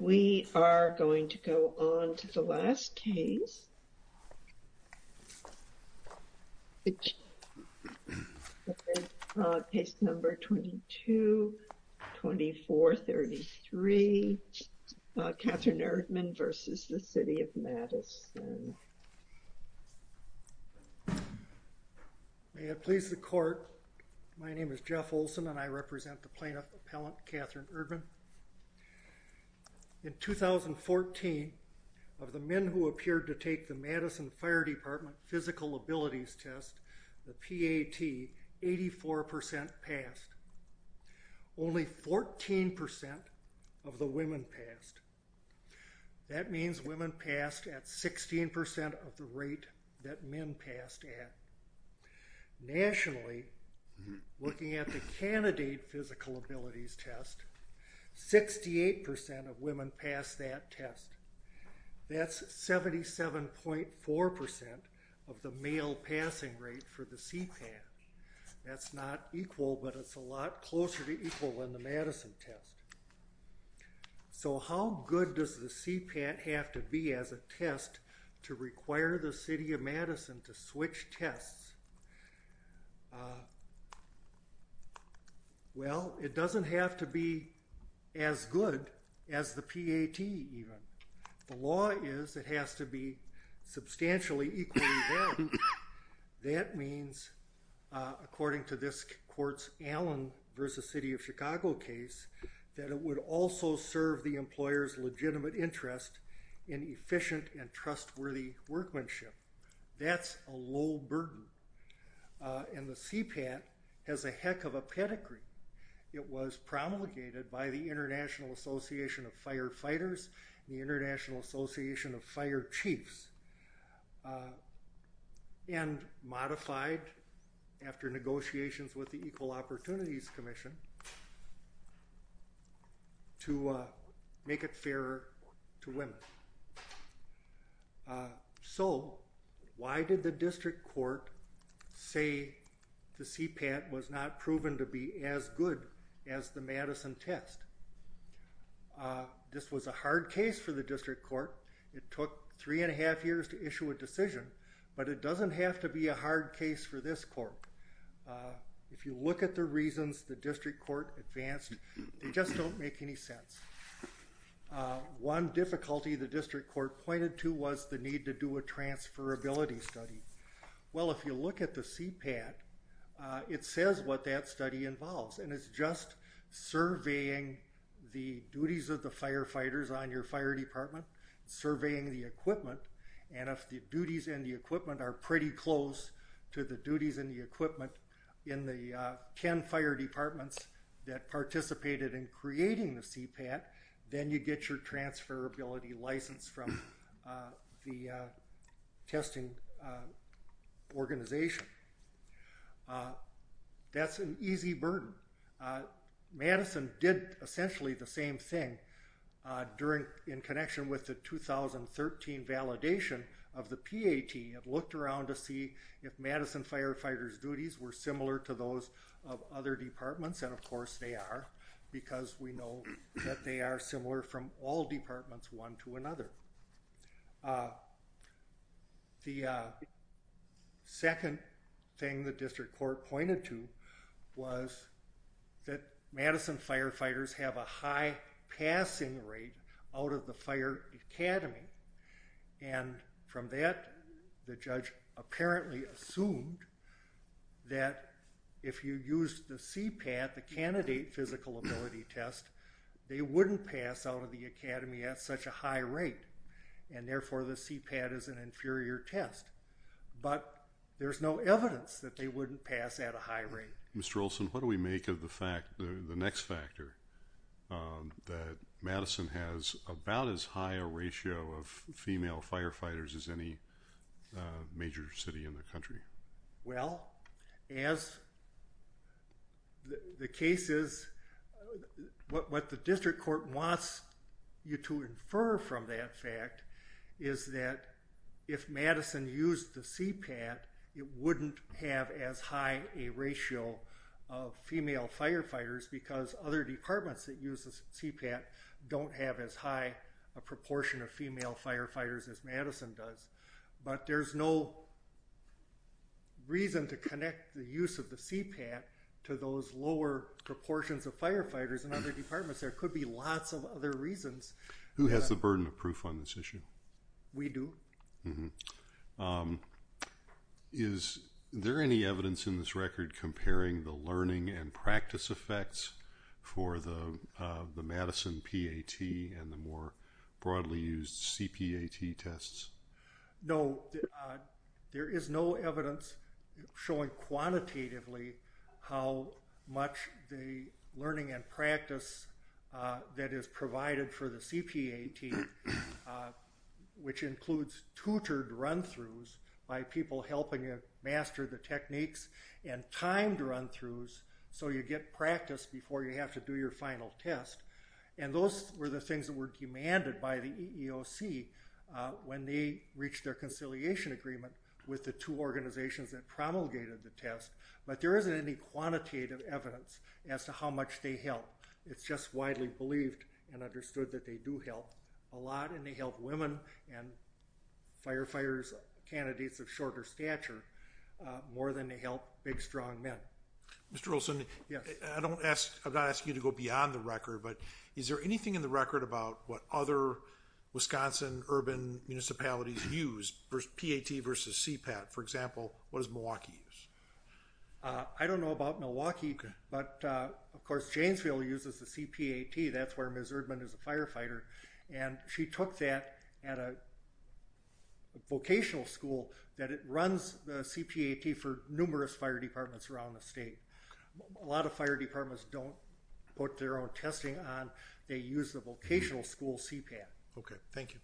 We are going to go on to the last case, case number 22-2433, Catherine Erdman versus the City of Madison. May it please the court, my name is Jeff Olson and I In 2014, of the men who appeared to take the Madison Fire Department physical abilities test, the PAT, 84% passed. Only 14% of the women passed. That means women passed at 16% of the rate that men passed at. Nationally, looking at the 88% of women passed that test. That's 77.4% of the male passing rate for the CPAT. That's not equal, but it's a lot closer to equal than the Madison test. So how good does the CPAT have to be as a test to require the City of Madison to switch as the PAT even. The law is it has to be substantially equally valid. That means, according to this court's Allen versus City of Chicago case, that it would also serve the employer's legitimate interest in efficient and trustworthy workmanship. That's a low burden. And the CPAT has a heck of a pedigree. It was promulgated by the International Association of Firefighters, the International Association of Fire Chiefs, and modified after negotiations with the Equal Opportunities Commission to make it fairer to women. So why did the district court say the CPAT was not proven to be as good as the Madison test? This was a hard case for the district court. It took three and a half years to issue a decision, but it doesn't have to be a hard case for this court. If you look at the reasons the district court advanced, they just don't make any sense. One difficulty the district court pointed to was the need to do a transferability study. Well, if you look at the CPAT, it says what that study involves, and it's just surveying the duties of the firefighters on your fire department, surveying the equipment, and if the duties and the equipment are pretty close to the duties and the equipment in the ten fire departments that participated in creating the CPAT, then you get your transferability license from the testing organization. That's an easy burden. Madison did essentially the same thing during, in connection with the 2013 validation of the PAT. It looked around to see if Madison firefighters duties were similar to those of other departments, and of course they are, because we know that they are similar from all departments one to another. The second thing the district court pointed to was that Madison firefighters have a high passing rate out of the fire academy, and from that the judge apparently assumed that if you use the candidate physical ability test, they wouldn't pass out of the academy at such a high rate, and therefore the CPAT is an inferior test, but there's no evidence that they wouldn't pass at a high rate. Mr. Olson, what do we make of the fact, the next factor, that Madison has about as high a ratio of female firefighters as any major city in the country? Well, as the case is, what the district court wants you to infer from that fact is that if Madison used the CPAT, it wouldn't have as high a ratio of female firefighters, because other departments that use the CPAT don't have as high a proportion of female firefighters as Madison does, but there's no reason to connect the use of the CPAT to those lower proportions of firefighters in other departments. There could be lots of other reasons. Who has the burden of proof on this issue? We do. Is there any evidence in this record comparing the learning and practice effects for the No, there is no evidence showing quantitatively how much the learning and practice that is provided for the CPAT, which includes tutored run-throughs by people helping you master the techniques, and timed run-throughs so you get practice before you have to do your final test, and those were the things that were demanded by the EEOC when they reached their conciliation agreement with the two organizations that promulgated the test, but there isn't any quantitative evidence as to how much they help. It's just widely believed and understood that they do help a lot, and they help women and firefighters, candidates of shorter stature, more than they help big strong men. Mr. Olson, I'm not asking you to go beyond the record, but is there anything in the record about what other Wisconsin urban municipalities use for PAT versus CPAT? For example, what does Milwaukee use? I don't know about Milwaukee, but of course Janesville uses the CPAT. That's where Ms. Erdman is a firefighter, and she took that at a vocational school that it runs the CPAT for numerous fire departments around the state. A lot of fire departments don't put their own testing on. They use the vocational school CPAT. Okay, thank you.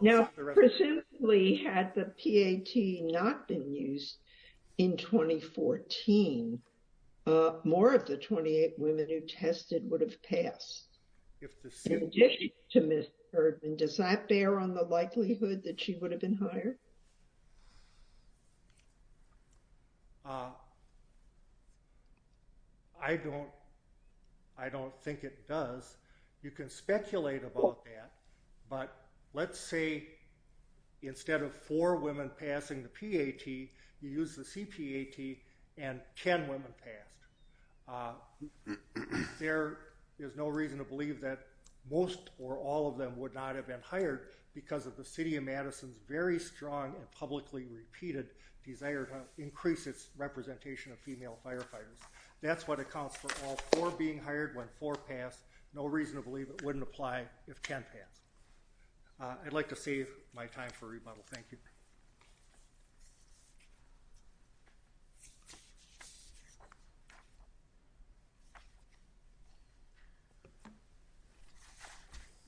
Now, presumably had the PAT not been used in 2014, more of the 28 women who tested would have passed. In addition to Ms. Erdman, does that bear on the I don't think it does. You can speculate about that, but let's say instead of four women passing the PAT, you use the CPAT and ten women passed. There is no reason to believe that most or all of them would not have been hired because of the City of Madison's very strong and publicly repeated desire to increase its representation of female firefighters. That's what accounts for all four being hired when four pass. No reason to believe it wouldn't apply if ten pass. I'd like to save my time for rebuttal. Thank you.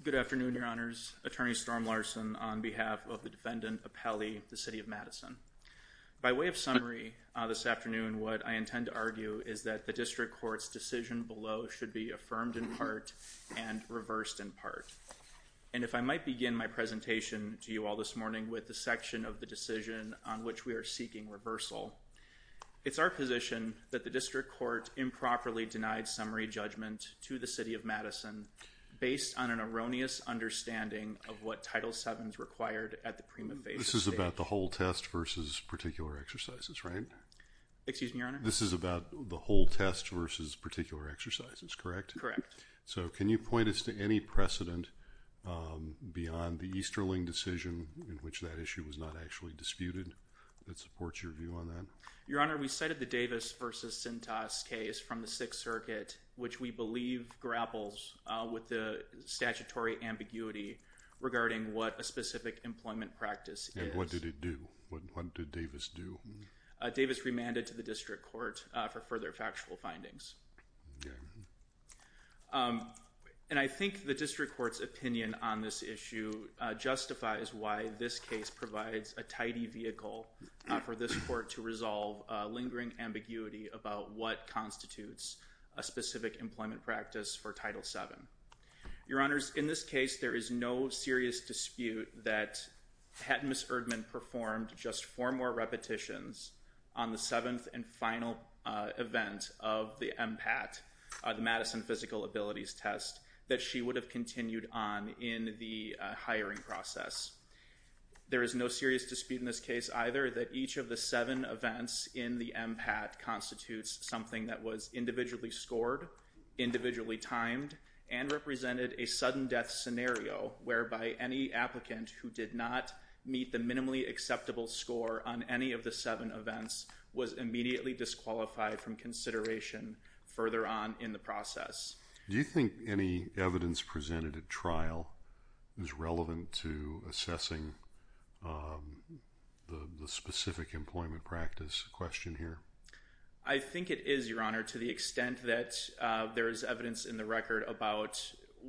Good afternoon, Your Honors. Attorney Storm Larson on behalf of the defendant Appelli, the City of Madison. By way of summary this afternoon, what I should be affirmed in part and reversed in part. And if I might begin my presentation to you all this morning with the section of the decision on which we are seeking reversal, it's our position that the District Court improperly denied summary judgment to the City of Madison based on an erroneous understanding of what Title VII is required at the prima facie. This is about the whole test versus particular exercises, right? Excuse me, Your Honor? This is about the whole test versus particular exercises, correct? Correct. So can you point us to any precedent beyond the Easterling decision in which that issue was not actually disputed that supports your view on that? Your Honor, we cited the Davis versus Cintas case from the Sixth Circuit, which we believe grapples with the statutory ambiguity regarding what a specific employment practice is. And what did it do? What did Davis do? Davis remanded to the District Court for further factual findings. And I think the District Court's opinion on this issue justifies why this case provides a tidy vehicle for this Court to resolve lingering ambiguity about what constitutes a specific employment practice for Title VII. Your Honors, in this case there is no serious dispute that had Ms. Erdmann performed just four more repetitions on the seventh and final event of the MPAT, the Madison Physical Abilities Test, that she would have continued on in the hiring process. There is no serious dispute in this case either that each of the seven events in the MPAT constitutes something that was individually scored, individually timed, and represented a sudden death scenario whereby any applicant who did not meet the minimally acceptable score on any of the seven events was immediately disqualified from consideration further on in the process. Do you think any evidence presented at trial is relevant to assessing the specific employment practice question here? I think it is, Your Honor, to the extent that there is evidence in the record about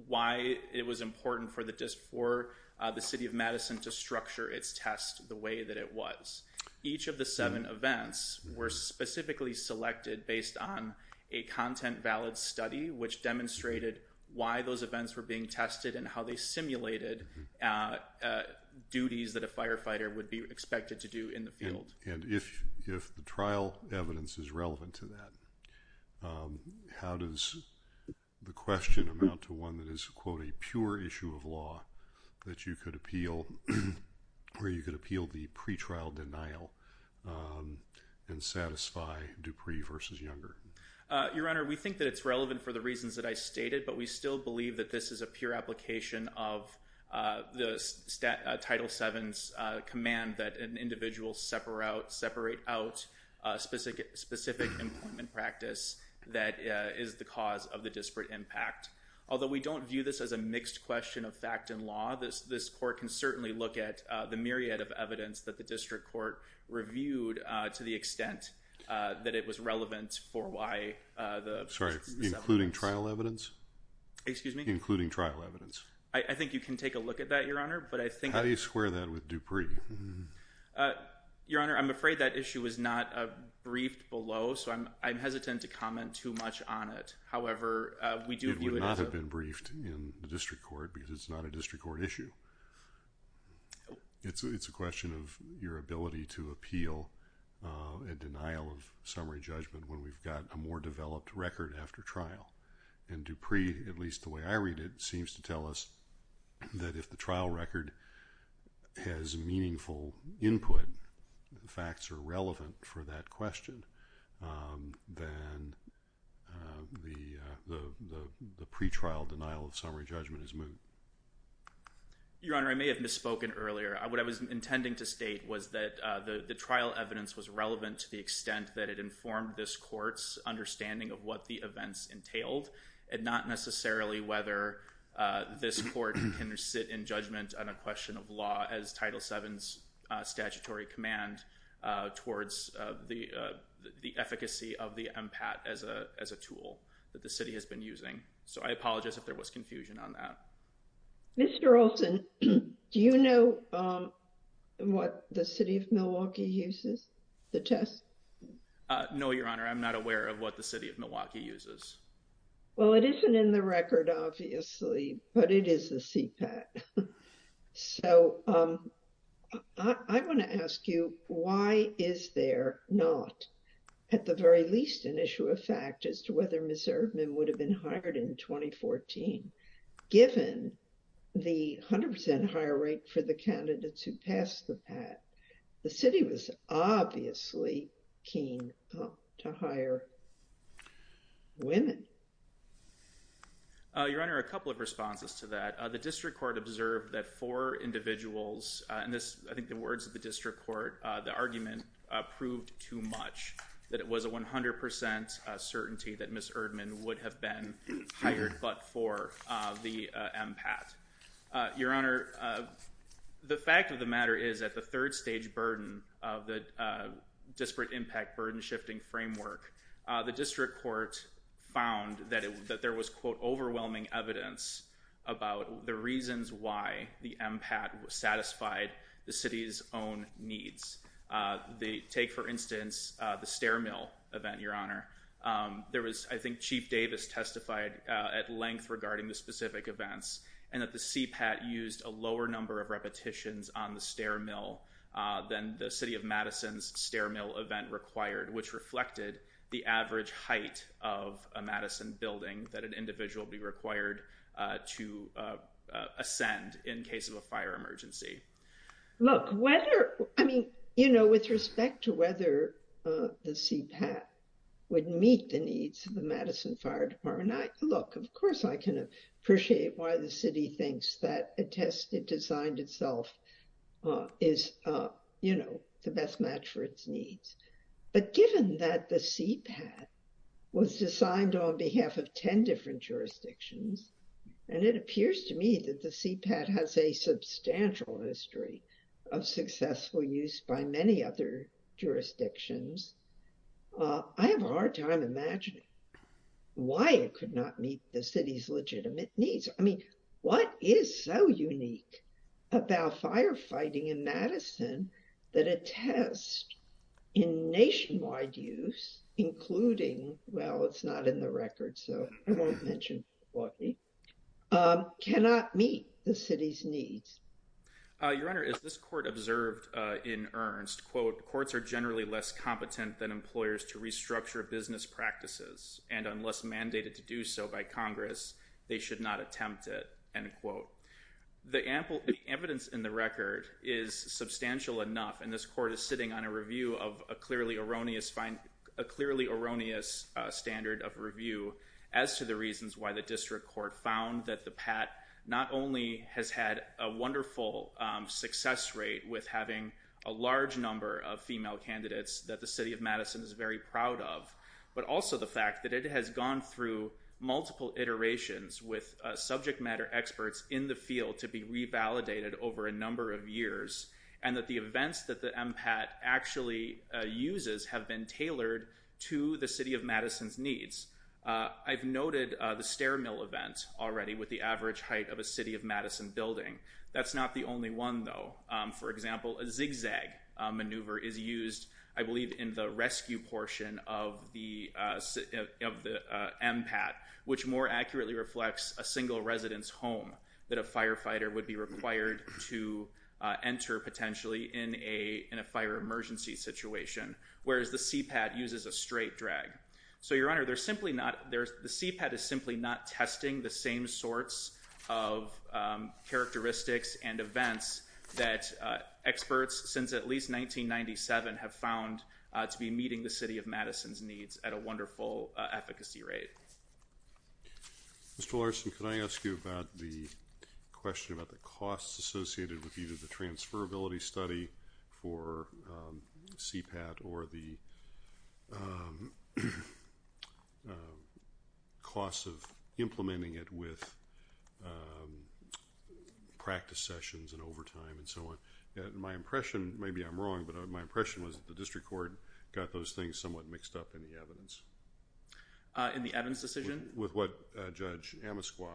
why it was important for the District, for the City of Madison, to structure its test the way that it was. Each of the seven events were specifically selected based on a content valid study which demonstrated why those events were being tested and how they simulated duties that a firefighter would be expected to do in the field. And if the trial evidence is relevant to that, how does the question amount to one that is, quote, a pure issue of law that you could appeal where you could appeal the pretrial denial and satisfy Dupree versus Younger? Your Honor, we think that it's relevant for the reasons that I stated but we still believe that this is a pure application of the Title VII's command that an individual separate out specific employment practice that is the cause of the disparate impact. Although we don't view this as a mixed question of fact and law, this court can certainly look at the myriad of evidence that the District Court reviewed to the extent that it was relevant for why the... Sorry, including trial evidence? Excuse me? Including trial evidence. I think you can take a look at that, Your Honor, but I think... How do you square that with Dupree? Your Honor, I'm afraid that issue was not briefed below so I'm hesitant to comment too much on it. However, we do view it as a... It would not have been briefed in the District Court because it's not a District Court issue. It's a question of your ability to appeal a denial of summary judgment when we've got a more developed record after trial. And Dupree, at least the way I read it, seems to tell us that if the trial record has meaningful input, the facts are relevant for that question, then the pretrial denial of summary judgment is moot. Your Honor, I may have misspoken earlier. What I was intending to state was that the the trial evidence was relevant to the extent that it informed this court's understanding of what the events entailed and not necessarily whether this court can sit in judgment on a question of law as Title VII's statutory command towards the efficacy of the MPAT as a tool that the city has been using. So, I apologize if there was confusion on that. Mr. Olson, do you know what the City of Milwaukee uses to test? No, Your Honor. I'm not aware of what the City of Milwaukee uses. Well, it isn't in the record, obviously, but it is the CPAT. So, I want to ask you, why is there not, at the very least, an issue of fact as to whether Ms. Erdman would have been hired in 2014, given the 100% higher rate for the candidates who passed the PAT? The city was obviously keen to hire women. Your Honor, a couple of responses to that. The district court observed that for individuals, and this I think the words of the district court, the argument proved too much that it was a 100% certainty that Ms. Erdman would have been hired but for the MPAT. Your Honor, the fact of the matter is that the third-stage burden of the disparate impact burden shifting framework, the district court found that there was, quote, overwhelming evidence about the reasons why the MPAT satisfied the city's own needs. Take, for instance, the stair mill event, Your Honor. There was, I think, Chief Davis testified at length regarding the specific events and that the CPAT used a lower number of repetitions on the stair mill than the City of Madison's stair mill event required, which reflected the average height of a Madison building that an individual be required to ascend in case of a fire emergency. Look, whether, I mean, you know, with respect to whether the CPAT would meet the needs of the Madison Fire Department, look, of course I can appreciate why the city thinks that a test it designed itself is, you know, the best match for its needs, but given that the CPAT was designed on behalf of ten different jurisdictions and it appears to me that the CPAT has a substantial history of successful use by many other jurisdictions, I have a hard time imagining why it could not meet the needs of the city. The CPAT is so unique about firefighting in Madison that a test in nationwide use, including, well, it's not in the record, so I won't mention why, cannot meet the city's needs. Your Honor, as this court observed in Ernst, quote, courts are generally less competent than employers to restructure business practices and unless mandated to do so by Congress they should not attempt it, end quote. The evidence in the record is substantial enough, and this court is sitting on a review of a clearly erroneous standard of review as to the reasons why the district court found that the PAT not only has had a wonderful success rate with having a large number of female candidates that the city of Madison is very proud of, but also the fact that it has gone through multiple iterations with subject matter experts in the field to be revalidated over a number of years and that the events that the MPAT actually uses have been tailored to the city of Madison's needs. I've noted the stair mill event already with the average height of a city of Madison building. That's not the only one, though. For example, a zigzag maneuver is used, I MPAT, which more accurately reflects a single resident's home that a firefighter would be required to enter potentially in a fire emergency situation, whereas the CPAT uses a straight drag. So, Your Honor, the CPAT is simply not testing the same sorts of characteristics and events that experts since at least 1997 have found to be efficacy rate. Mr. Larson, could I ask you about the question about the costs associated with either the transferability study for CPAT or the costs of implementing it with practice sessions and overtime and so on. My impression, maybe I'm wrong, but my impression was the district court got those things somewhat mixed up in the evidence. In the evidence decision? With what Judge Amasqua,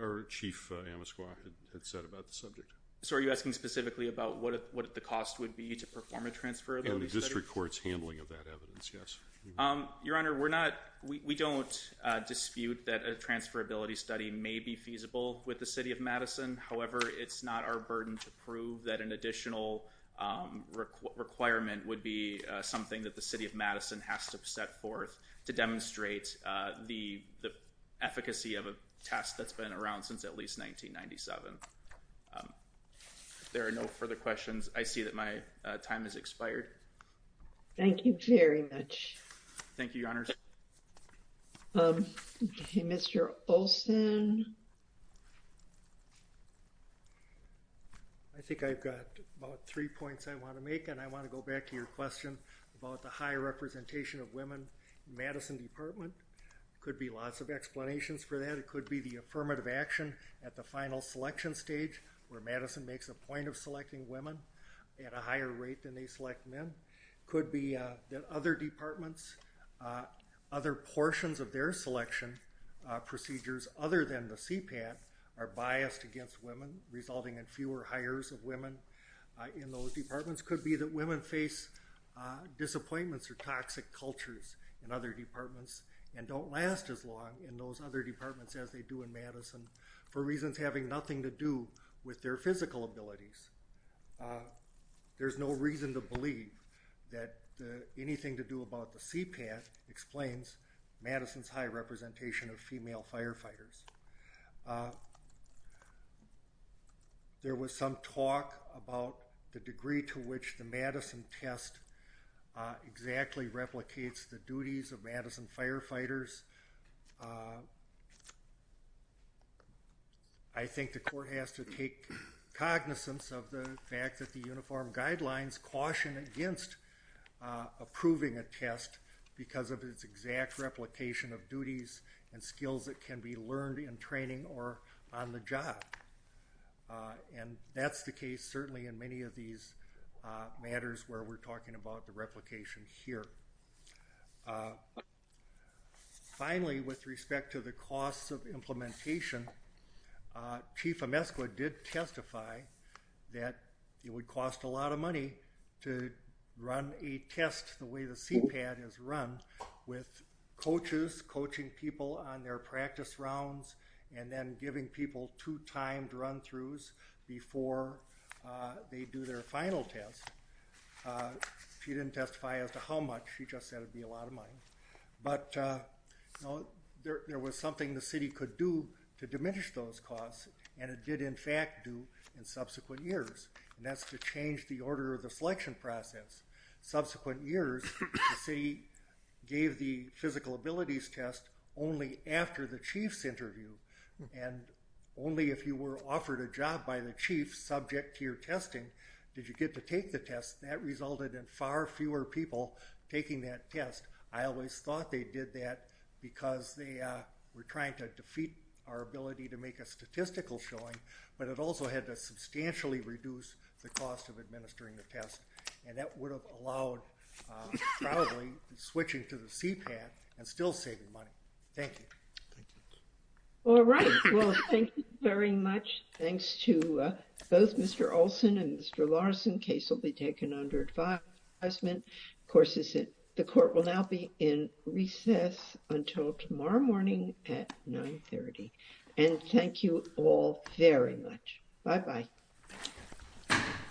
or Chief Amasqua, had said about the subject. So, are you asking specifically about what the cost would be to perform a transferability study? And the district court's handling of that evidence, yes. Your Honor, we're not, we don't dispute that a transferability study may be feasible with the city of Madison. However, it's not our burden to prove that an additional requirement would be something that the city of Madison has to set forth to demonstrate the efficacy of a test that's been around since at least 1997. There are no further questions. I see that my time has expired. Thank you very much. Thank you, Your Honor. Okay, Mr. Olson. I think I've got about three points I want to make and I would like to make a few comments about the high representation of women in the Madison Department. There could be lots of explanations for that. It could be the affirmative action at the final selection stage where Madison makes a point of selecting women at a higher rate than they select men. It could be that other departments, other portions of their selection procedures, other than the CPAT, are biased against women, resulting in fewer hires of women in those departments. Could be that women face disappointments or toxic cultures in other departments and don't last as long in those other departments as they do in Madison for reasons having nothing to do with their physical abilities. There's no reason to believe that anything to do about the CPAT explains Madison's high representation of female firefighters. There was some talk about the degree to which the Madison test exactly replicates the duties of Madison firefighters. I think the court has to take cognizance of the fact that the uniform guidelines caution against approving a test because of its exact replication of duties and skills that can be learned in training or on the job. And that's the case certainly in many of these matters where we're talking about the replication here. Finally, with respect to the costs of implementation, Chief Emescua did testify that it would cost a lot of money to run a test the way the CPAT is run with coaches coaching people on their practice rounds and then giving people two timed run-throughs before they do their final test. She didn't testify as to how much, she just said it'd be a lot of money. But you know there was something the city could do to diminish those costs and it did in fact do in subsequent years and that's to change the order of the selection process. Subsequent years, the city gave the physical abilities test only after the chief's interview and only if you were offered a job by the chief subject to your testing did you get to take the test. That resulted in far fewer people taking that test. I always thought they did that because they were trying to defeat our ability to make a statistical showing but it also had to substantially reduce the cost of administering the test and that would have allowed probably switching to the CPAT and still saving money. Thank you. All right, well thank you very much. Thanks to both Mr. Olson and Mr. Larson. The case will be taken under advisement. Of course, the court will now be in recess until tomorrow morning at 930 and thank you all very much. Bye bye.